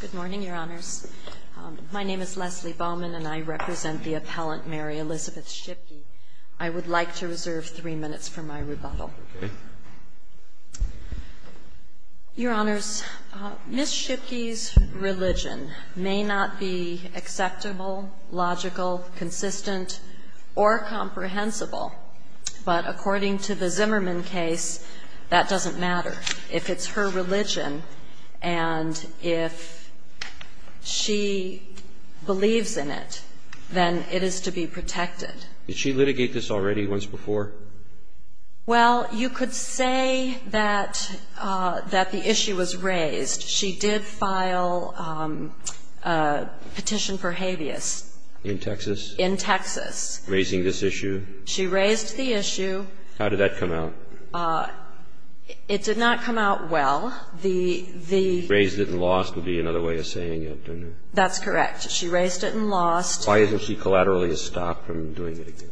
Good morning, Your Honors. My name is Leslie Bowman, and I represent the appellant Mary Elizabeth Schipke. I would like to reserve three minutes for my rebuttal. Your Honors, Ms. Schipke's religion may not be acceptable, logical, consistent, or comprehensible, but according to the Zimmerman case, that doesn't matter. If it's her religion and if she believes in it, then it is to be protected. Did she litigate this already once before? Well, you could say that the issue was raised. She did file a petition for habeas. In Texas? In Texas. Raising this issue? She raised the issue. How did that come out? It did not come out well. The the Raised it and lost would be another way of saying it. That's correct. She raised it and lost. Why isn't she collaterally stopped from doing it again?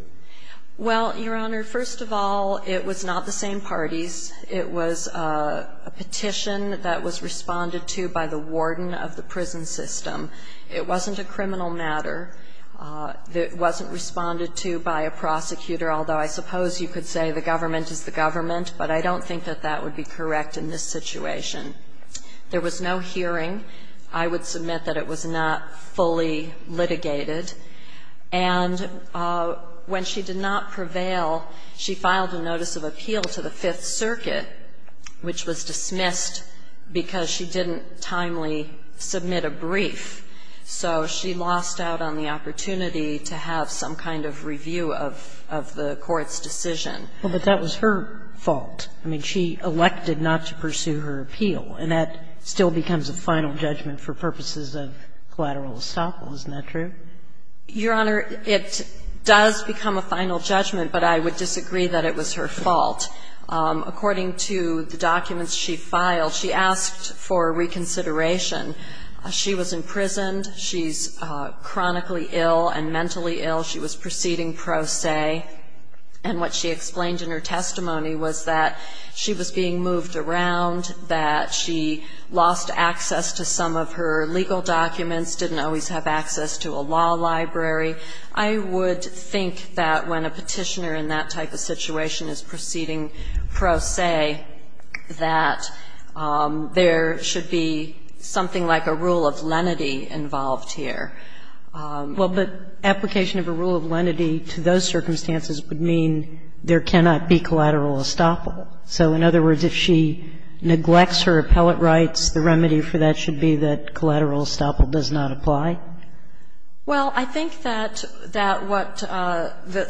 Well, Your Honor, first of all, it was not the same parties. It was a petition that was responded to by the warden of the prison system. It wasn't a criminal matter. It wasn't responded to by a prosecutor, although I suppose you could say the government is the government, but I don't think that that would be correct in this situation. There was no hearing. I would submit that it was not fully litigated. And when she did not prevail, she filed a notice of appeal to the Fifth Circuit, which was dismissed because she didn't timely submit a brief. So she lost out on the opportunity to have some kind of review of the court's decision. Well, but that was her fault. I mean, she elected not to pursue her appeal, and that still becomes a final judgment for purposes of collateral estoppel. Isn't that true? Your Honor, it does become a final judgment, but I would disagree that it was her fault. According to the documents she filed, she asked for reconsideration. She was imprisoned. She's chronically ill and mentally ill. She was proceeding pro se. And what she explained in her testimony was that she was being moved around, that she lost access to some of her legal documents, didn't always have access to a law library. I would think that when a petitioner in that type of situation is proceeding pro se, that there should be something like a rule of lenity involved here. Well, but application of a rule of lenity to those circumstances would mean there cannot be collateral estoppel. So in other words, if she neglects her appellate rights, the remedy for that should be that collateral estoppel does not apply? Well, I think that what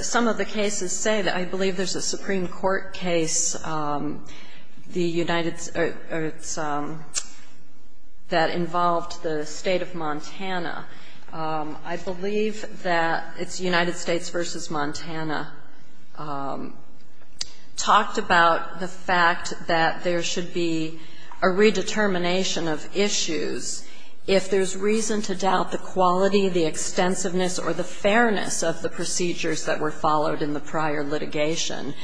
some of the cases say, that I believe there's a Supreme Court case that involved the State of Montana. I believe that it's United States v. Montana talked about the fact that there should be a redetermination of issues if there's reason to doubt the quality, the extensiveness, or the fairness of the procedures that were followed in the prior litigation.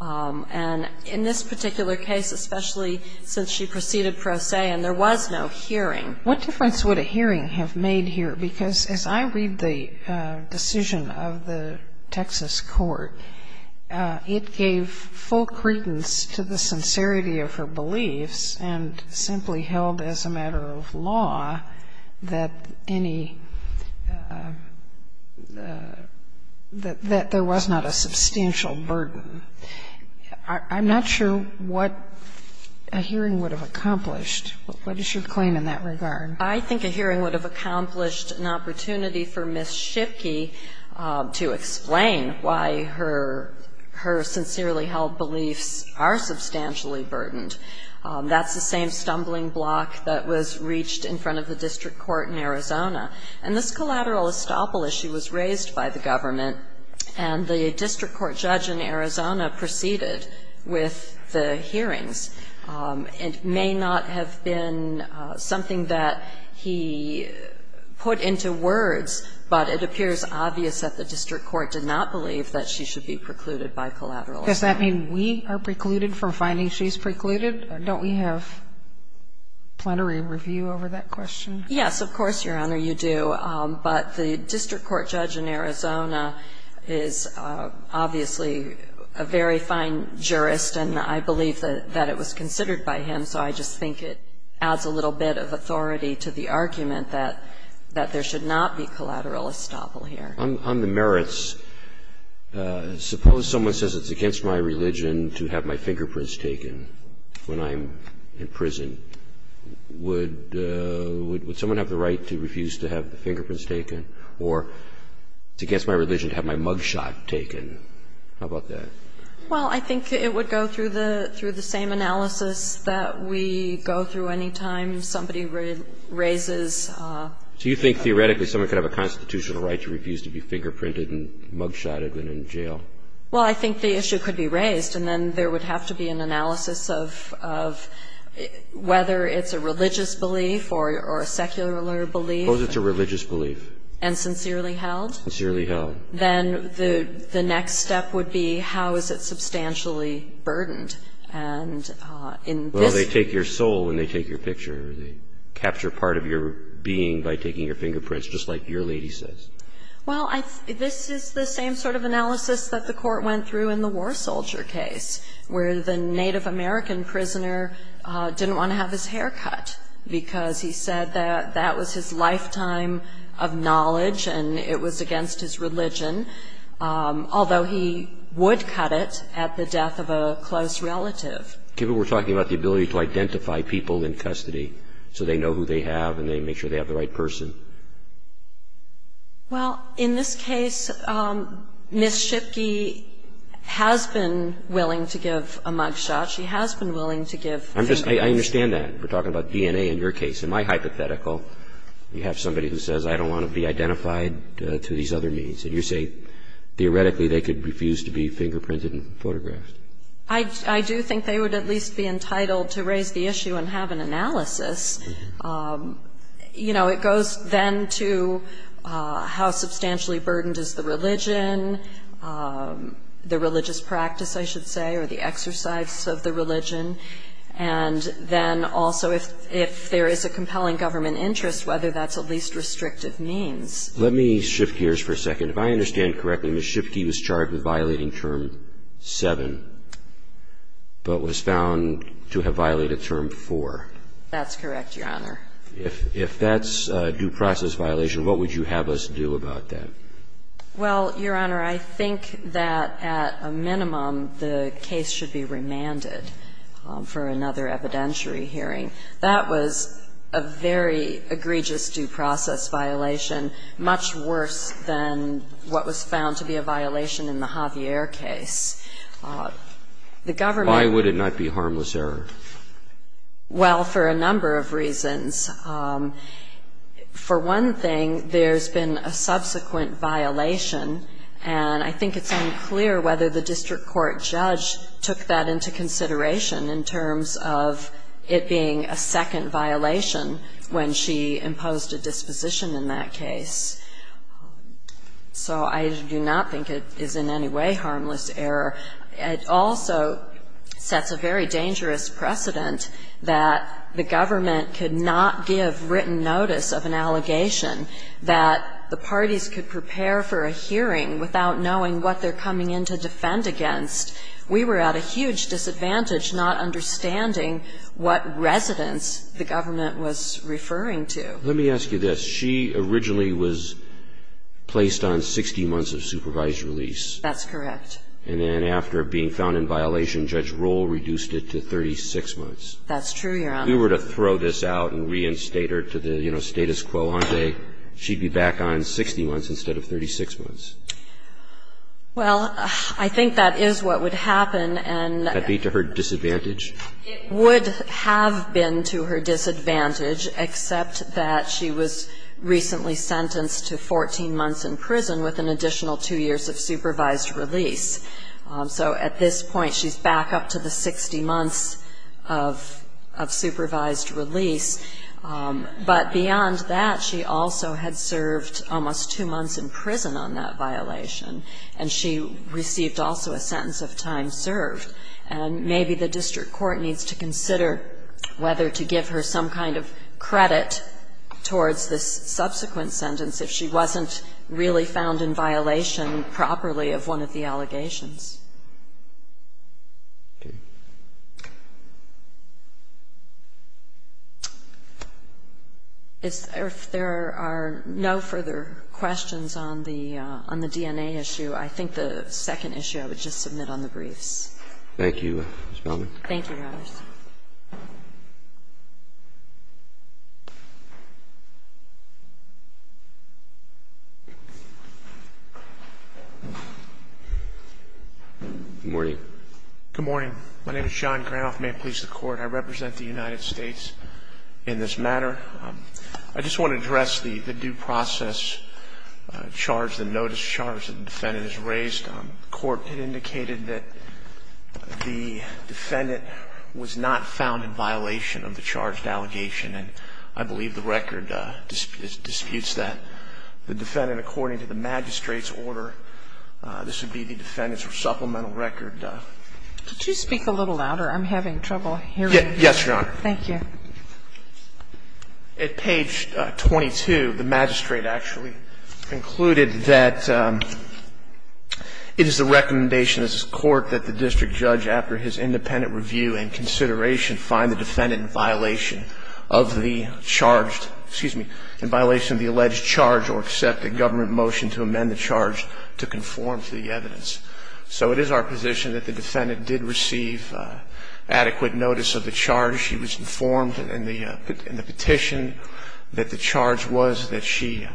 And in this particular case, especially since she proceeded pro se and there was no hearing. What difference would a hearing have made here? Because as I read the decision of the Texas court, it gave full credence to the sincerity of her beliefs and simply held as a matter of law that any, that there was not a substantial burden. I'm not sure what a hearing would have accomplished. What is your claim in that regard? I think a hearing would have accomplished an opportunity for Ms. Shipke to explain why her sincerely held beliefs are substantially burdened. That's the same stumbling block that was reached in front of the district court in Arizona. And this collateral estoppel issue was raised by the government, and the district court judge in Arizona proceeded with the hearings. It may not have been something that he put into words, but it appears obvious that the district court did not believe that she should be precluded by collateral estoppel. Does that mean we are precluded from finding she's precluded, or don't we have plenary review over that question? Yes, of course, Your Honor, you do. But the district court judge in Arizona is obviously a very fine jurist, and I believe that it was considered by him, so I just think it adds a little bit of authority to the argument that there should not be collateral estoppel here. On the merits, suppose someone says it's against my religion to have my fingerprints taken when I'm in prison. Would someone have the right to refuse to have the fingerprints taken? Or it's against my religion to have my mugshot taken. How about that? Well, I think it would go through the same analysis that we go through any time somebody raises. Do you think theoretically someone could have a constitutional right to refuse to be fingerprinted and mugshotted when in jail? Well, I think the issue could be raised, and then there would have to be an analysis of whether it's a religious belief or a secular belief. Suppose it's a religious belief. And sincerely held? Sincerely held. Then the next step would be how is it substantially burdened? And in this. They take your soul when they take your picture. They capture part of your being by taking your fingerprints, just like your lady says. Well, this is the same sort of analysis that the court went through in the war soldier case, where the Native American prisoner didn't want to have his hair cut because he said that that was his lifetime of knowledge and it was against his religion, although he would cut it at the death of a close relative. We're talking about the ability to identify people in custody so they know who they have and they make sure they have the right person. Well, in this case, Ms. Shipke has been willing to give a mugshot. She has been willing to give fingerprints. I understand that. We're talking about DNA in your case. In my hypothetical, you have somebody who says I don't want to be identified through these other means. And you say theoretically they could refuse to be fingerprinted and photographed. I do think they would at least be entitled to raise the issue and have an analysis. You know, it goes then to how substantially burdened is the religion, the religious practice, I should say, or the exercise of the religion, and then also if there is a compelling government interest, whether that's a least restrictive means. Let me shift gears for a second. If I understand correctly, Ms. Shipke was charged with violating Term 7, but was found to have violated Term 4. That's correct, Your Honor. If that's a due process violation, what would you have us do about that? Well, Your Honor, I think that at a minimum the case should be remanded for another evidentiary hearing. That was a very egregious due process violation, much worse than what was found to be a violation in the Javier case. The government Why would it not be harmless error? Well, for a number of reasons. For one thing, there's been a subsequent violation, and I think it's unclear whether the district court judge took that into consideration in terms of it being a second violation when she imposed a disposition in that case. So I do not think it is in any way harmless error. It also sets a very dangerous precedent that the government could not give written notice of an allegation, that the parties could prepare for a hearing without knowing what they're coming in to defend against. We were at a huge disadvantage not understanding what residents the government was referring to. Let me ask you this. She originally was placed on 60 months of supervised release. That's correct. And then after being found in violation, Judge Roll reduced it to 36 months. That's true, Your Honor. If we were to throw this out and reinstate her to the status quo, she'd be back on 60 months instead of 36 months. Well, I think that is what would happen, and that would be to her disadvantage. It would have been to her disadvantage, except that she was recently sentenced to 14 months in prison with an additional two years of supervised release. So at this point, she's back up to the 60 months of supervised release. But beyond that, she also had served almost two months in prison on that violation, and she received also a sentence of time served. And maybe the district court needs to consider whether to give her some kind of credit towards this subsequent sentence if she wasn't really found in violation properly of one of the allegations. If there are no further questions on the DNA issue, I think the second issue I would just submit on the briefs. Thank you, Ms. Baumann. Thank you, Your Honor. Ms. Baumann. Good morning. Good morning. My name is John Granoff. May it please the Court, I represent the United States in this matter. I just want to address the due process charge, the notice charge that the defendant has raised. The Court had indicated that the defendant was not found in violation of the charged allegation, and I believe the record disputes that. The defendant, according to the magistrate's order, this would be the defendant's supplemental record. Could you speak a little louder? I'm having trouble hearing you. Yes, Your Honor. Thank you. At page 22, the magistrate actually concluded that it is the recommendation of this Court that the district judge, after his independent review and consideration, find the defendant in violation of the charged, excuse me, in violation of the alleged charge or accept a government motion to amend the charge to conform to the evidence. So it is our position that the defendant did receive adequate notice of the charge. She was informed in the petition that the charge was that she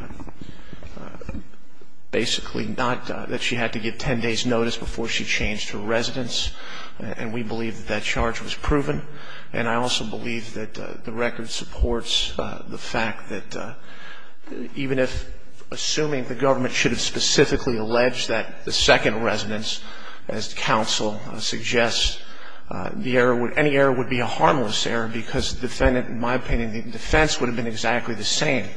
basically not, that she had to give 10 days' notice before she changed her residence, and we believe that that charge was proven. And I also believe that the record supports the fact that even if, assuming the government should have specifically alleged that the second residence, as counsel suggests, the error would, any error would be a harmless error because the defendant, in my opinion, the defense would have been exactly the same.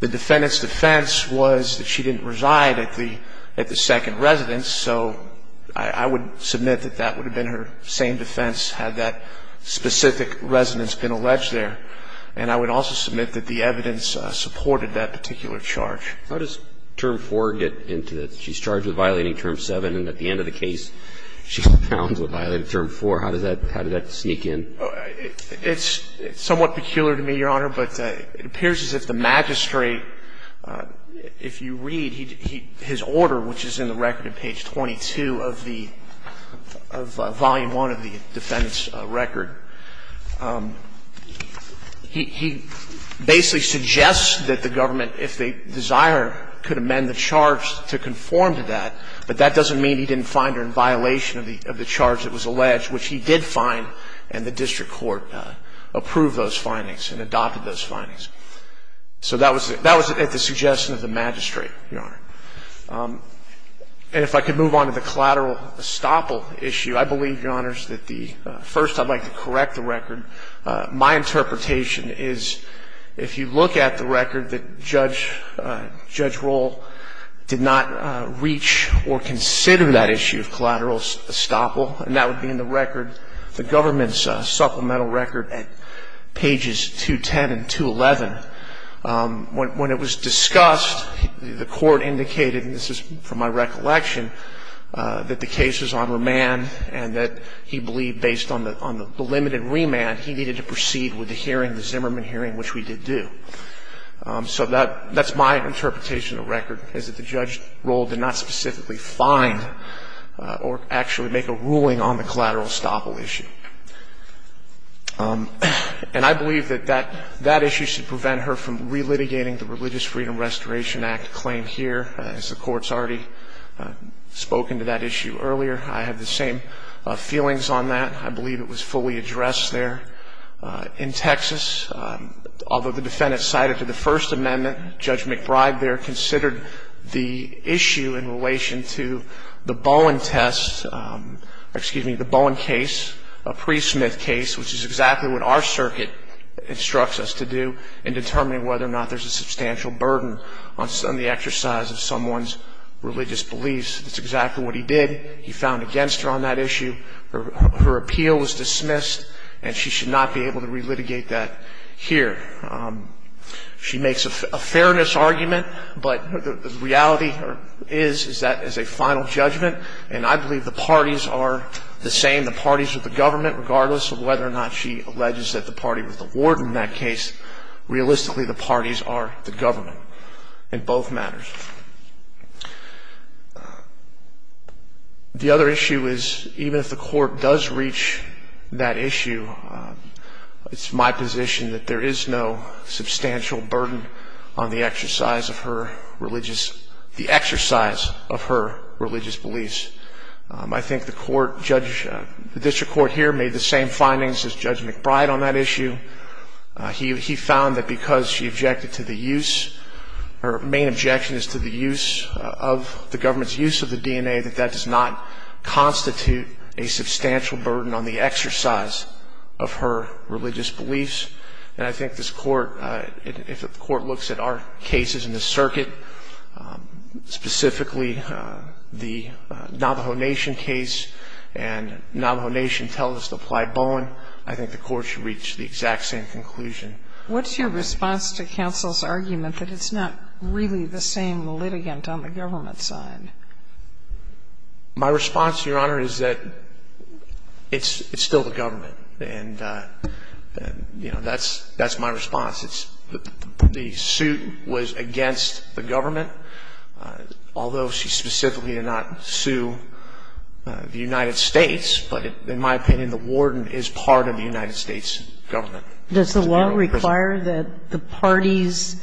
The defendant's defense was that she didn't reside at the second residence, so I would submit that that would have been her same defense had that specific residence been alleged there. And I would also submit that the evidence supported that particular charge. How does term 4 get into that? She's charged with violating term 7, and at the end of the case, she confounds with violating term 4. How does that sneak in? It's somewhat peculiar to me, Your Honor, but it appears as if the magistrate, if you read his order, which is in the record at page 22 of the, of volume 1 of the defendant's record, he basically suggests that the government, if they desire, could amend the charge to conform to that, but that doesn't mean he didn't find her in violation of the charge that was alleged, which he did find, and the district court approved those findings and adopted those findings. So that was, that was at the suggestion of the magistrate, Your Honor. And if I could move on to the collateral estoppel issue, I believe, Your Honors, that the, first I'd like to correct the record. My interpretation is if you look at the record that Judge, Judge Roll did not reach or consider that issue of collateral estoppel, and that would be in the record, the government's supplemental record at pages 210 and 211, when it was discussed, the court indicated, and this is from my recollection, that the case was on remand and that he believed, based on the limited remand, he needed to proceed with the hearing, the Zimmerman hearing, which we did do. So that's my interpretation of the record, is that the Judge Roll did not specifically find or actually make a ruling on the collateral estoppel issue. And I believe that that, that issue should prevent her from relitigating the Religious Freedom Restoration Act claim here, as the Court's already spoken to that issue earlier. I have the same feelings on that. I believe it was fully addressed there. In Texas, although the defendant cited to the First Amendment, Judge McBride there considered the issue in relation to the Bowen test, excuse me, the Bowen case, a pre-Smith case, which is exactly what our circuit instructs us to do in determining whether or not there's a substantial burden on the exercise of someone's religious beliefs. That's exactly what he did. He found against her on that issue. Her appeal was dismissed, and she should not be able to relitigate that here. She makes a fairness argument, but the reality is, is that is a final judgment. And I believe the parties are the same, the parties of the government, regardless of whether or not she alleges that the party was the warden in that case. Realistically, the parties are the government in both matters. The other issue is, even if the Court does reach that issue, it's my position that there is no substantial burden on the exercise of her religious, the exercise of her religious beliefs. I think the court, the district court here made the same findings as Judge McBride on that issue. He found that because she objected to the use, her main objection is to the use of the government's use of the DNA, that that does not constitute a substantial burden on the exercise of her religious beliefs. And I think this Court, if the Court looks at our cases in the circuit, specifically the Navajo Nation case, and Navajo Nation tells us to apply Bowen, I think the Court should reach the exact same conclusion. What's your response to counsel's argument that it's not really the same litigant on the government side? My response, Your Honor, is that it's still the government. And, you know, that's my response. The suit was against the government, although she specifically did not sue the United States, but in my opinion, the warden is part of the United States government. Does the law require that the parties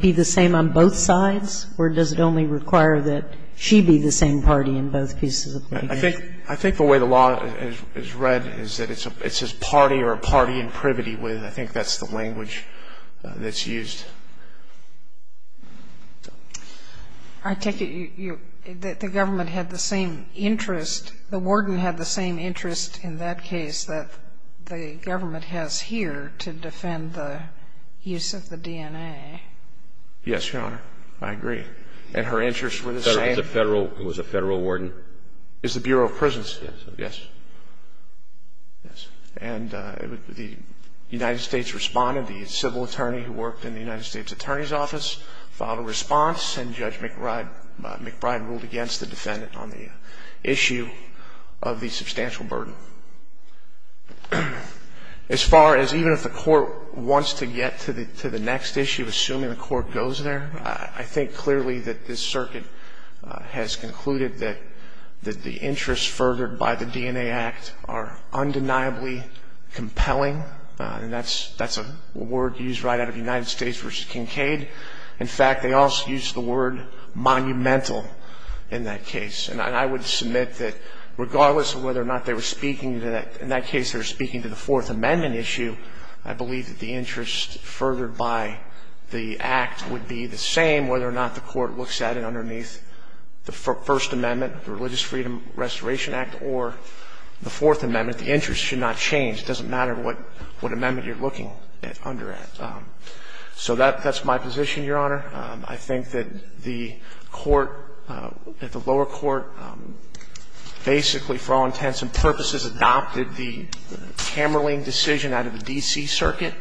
be the same on both sides, or does it only require that she be the same party in both cases? I think the way the law is read is that it's a party or a party in privity. I think that's the language that's used. I take it that the government had the same interest, the warden had the same interest in that case that the government has here to defend the use of the DNA. Yes, Your Honor. I agree. And her interests were the same? It was a Federal warden. It was the Bureau of Prisons? Yes. Yes. And the United States responded. The civil attorney who worked in the United States Attorney's Office filed a response, and Judge McBride ruled against the defendant on the issue of the substantial burden. As far as even if the Court wants to get to the next issue, assuming the Court goes there, I think clearly that this circuit has concluded that the interests furthered by the DNA Act are undeniably compelling, and that's a word used right out of the United States v. Kincaid. In fact, they also used the word monumental in that case. And I would submit that regardless of whether or not they were speaking to that – in that case they were speaking to the Fourth Amendment issue, I believe that the interest furthered by the Act would be the same whether or not the Court looks at it underneath the First Amendment, the Religious Freedom Restoration Act, or the Fourth Amendment. The interest should not change. It doesn't matter what amendment you're looking under it. So that's my position, Your Honor. I think that the Court, that the lower court basically for all intents and purposes adopted the Kamerling decision out of the D.C. circuit,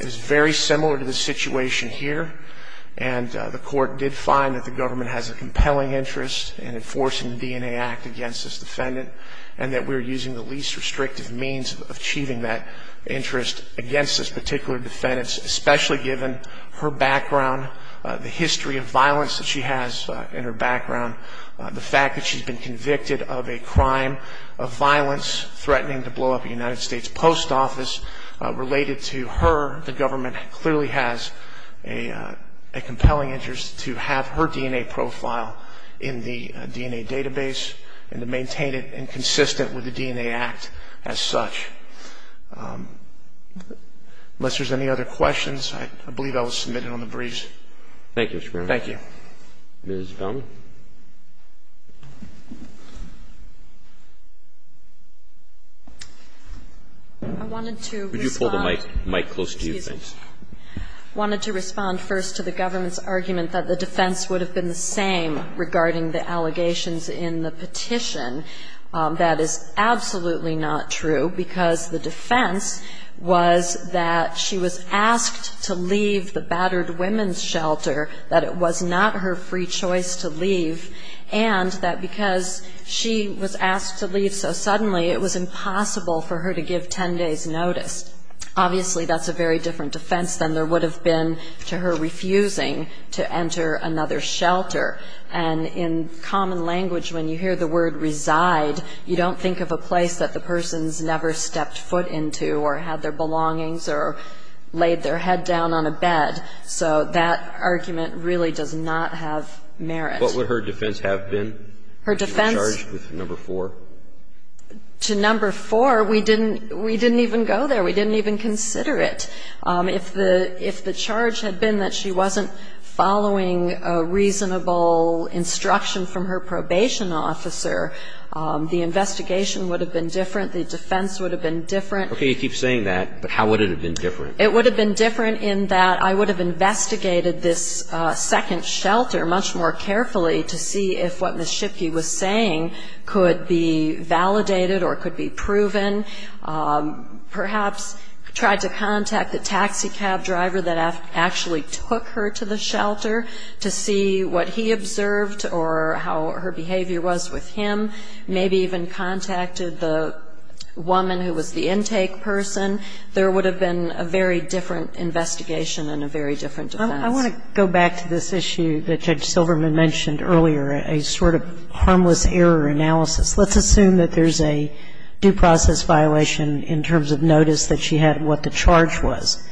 is very similar to the situation here. And the Court did find that the government has a compelling interest in enforcing the DNA Act against this defendant, and that we're using the least restrictive means of achieving that interest against this particular defendant, especially given her background, the history of violence that she has in her background, the fact that she's been convicted of a crime of violence threatening to blow up a United States post office. Related to her, the government clearly has a compelling interest to have her DNA profile in the DNA database and to maintain it and consistent with the DNA Act as such. Unless there's any other questions, I believe I was submitted on the briefs. Thank you, Mr. Berman. Thank you. Ms. Feldman. I wanted to respond. Could you hold the mic close to you, please? I wanted to respond first to the government's argument that the defense would have been the same regarding the allegations in the petition. That is absolutely not true, because the defense was that she was asked to leave the battered women's shelter, that it was not her free choice to leave, and that because she was asked to leave so suddenly, it was impossible for her to give 10 days' notice. Obviously, that's a very different defense than there would have been to her refusing to enter another shelter. And in common language, when you hear the word reside, you don't think of a place that the person's never stepped foot into or had their belongings or laid their head down on a bed. So that argument really does not have merit. What would her defense have been? Her defense? Would she have been charged with number four? To number four, we didn't even go there. We didn't even consider it. If the charge had been that she wasn't following a reasonable instruction from her probation officer, the investigation would have been different, the defense would have been different. You keep saying that, but how would it have been different? It would have been different in that I would have investigated this second shelter much more carefully to see if what Ms. Shipke was saying could be validated or could be proven, perhaps tried to contact the taxi cab driver that actually took her to the shelter to see what he observed or how her behavior was with him, maybe even contacted the woman who was the intake person. There would have been a very different investigation and a very different defense. I want to go back to this issue that Judge Silverman mentioned earlier, a sort of harmless error analysis. Let's assume that there's a due process violation in terms of notice that she had what the charge was.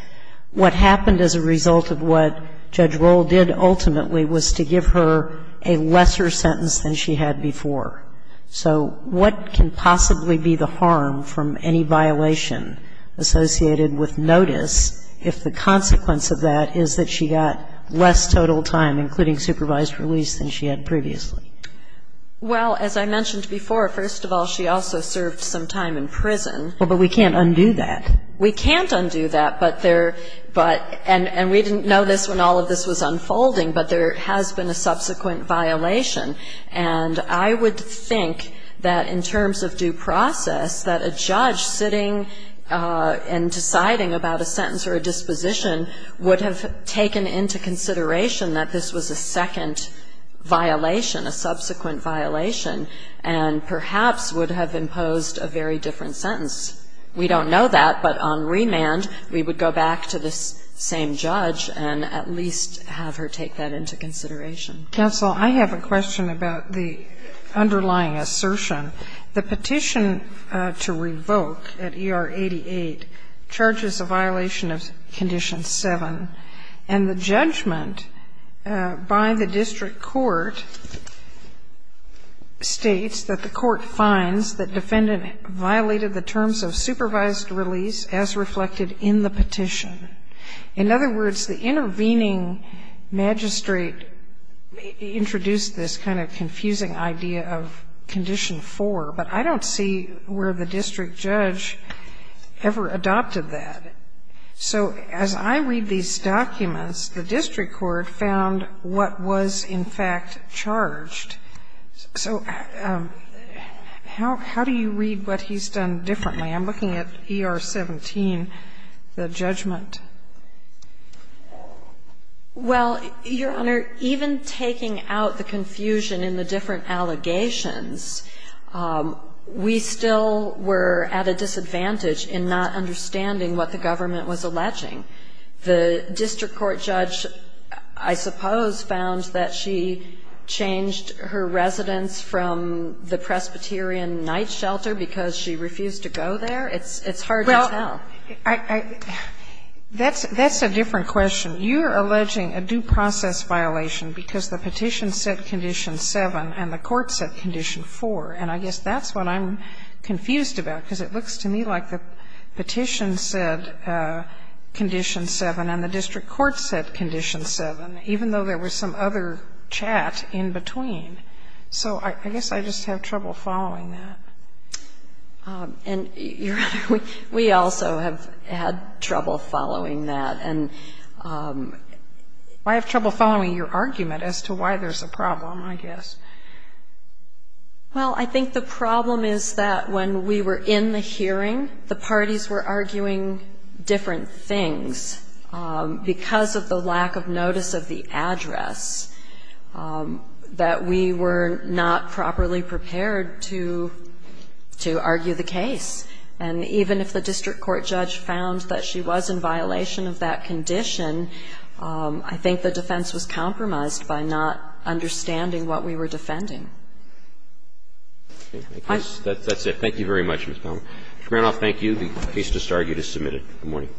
What happened as a result of what Judge Rohl did ultimately was to give her a lesser sentence than she had before. So what can possibly be the harm from any violation associated with notice if the consequence of that is that she got less total time, including supervised release, than she had previously? Well, as I mentioned before, first of all, she also served some time in prison. Well, but we can't undo that. We can't undo that, but there – and we didn't know this when all of this was unfolding, but there has been a subsequent violation. And I would think that in terms of due process, that a judge sitting and deciding about a sentence or a disposition would have taken into consideration that this was a second violation, a subsequent violation, and perhaps would have imposed a very different sentence. We don't know that, but on remand we would go back to this same judge and at least have her take that into consideration. Counsel, I have a question about the underlying assertion. The petition to revoke at ER 88 charges a violation of Condition 7, and the judgment by the district court states that the court finds that defendant violated the terms of supervised release as reflected in the petition. In other words, the intervening magistrate introduced this kind of confusing idea of Condition 4, but I don't see where the district judge ever adopted that. So as I read these documents, the district court found what was in fact charged. So how do you read what he's done differently? I'm looking at ER 17, the judgment. Well, Your Honor, even taking out the confusion in the different allegations, we still were at a disadvantage in not understanding what the government was alleging. The district court judge, I suppose, found that she changed her residence from the Well, that's a different question. You're alleging a due process violation because the petition said Condition 7 and the court said Condition 4. And I guess that's what I'm confused about, because it looks to me like the petition said Condition 7 and the district court said Condition 7, even though there was some other chat in between. So I guess I just have trouble following that. And, Your Honor, we also have had trouble following that. And I have trouble following your argument as to why there's a problem, I guess. Well, I think the problem is that when we were in the hearing, the parties were arguing different things because of the lack of notice of the address, that we were not properly prepared to argue the case. And even if the district court judge found that she was in violation of that condition, I think the defense was compromised by not understanding what we were defending. Okay. That's it. Thank you very much, Ms. Palmer. Mr. Granoff, thank you. The case just argued is submitted. Good morning.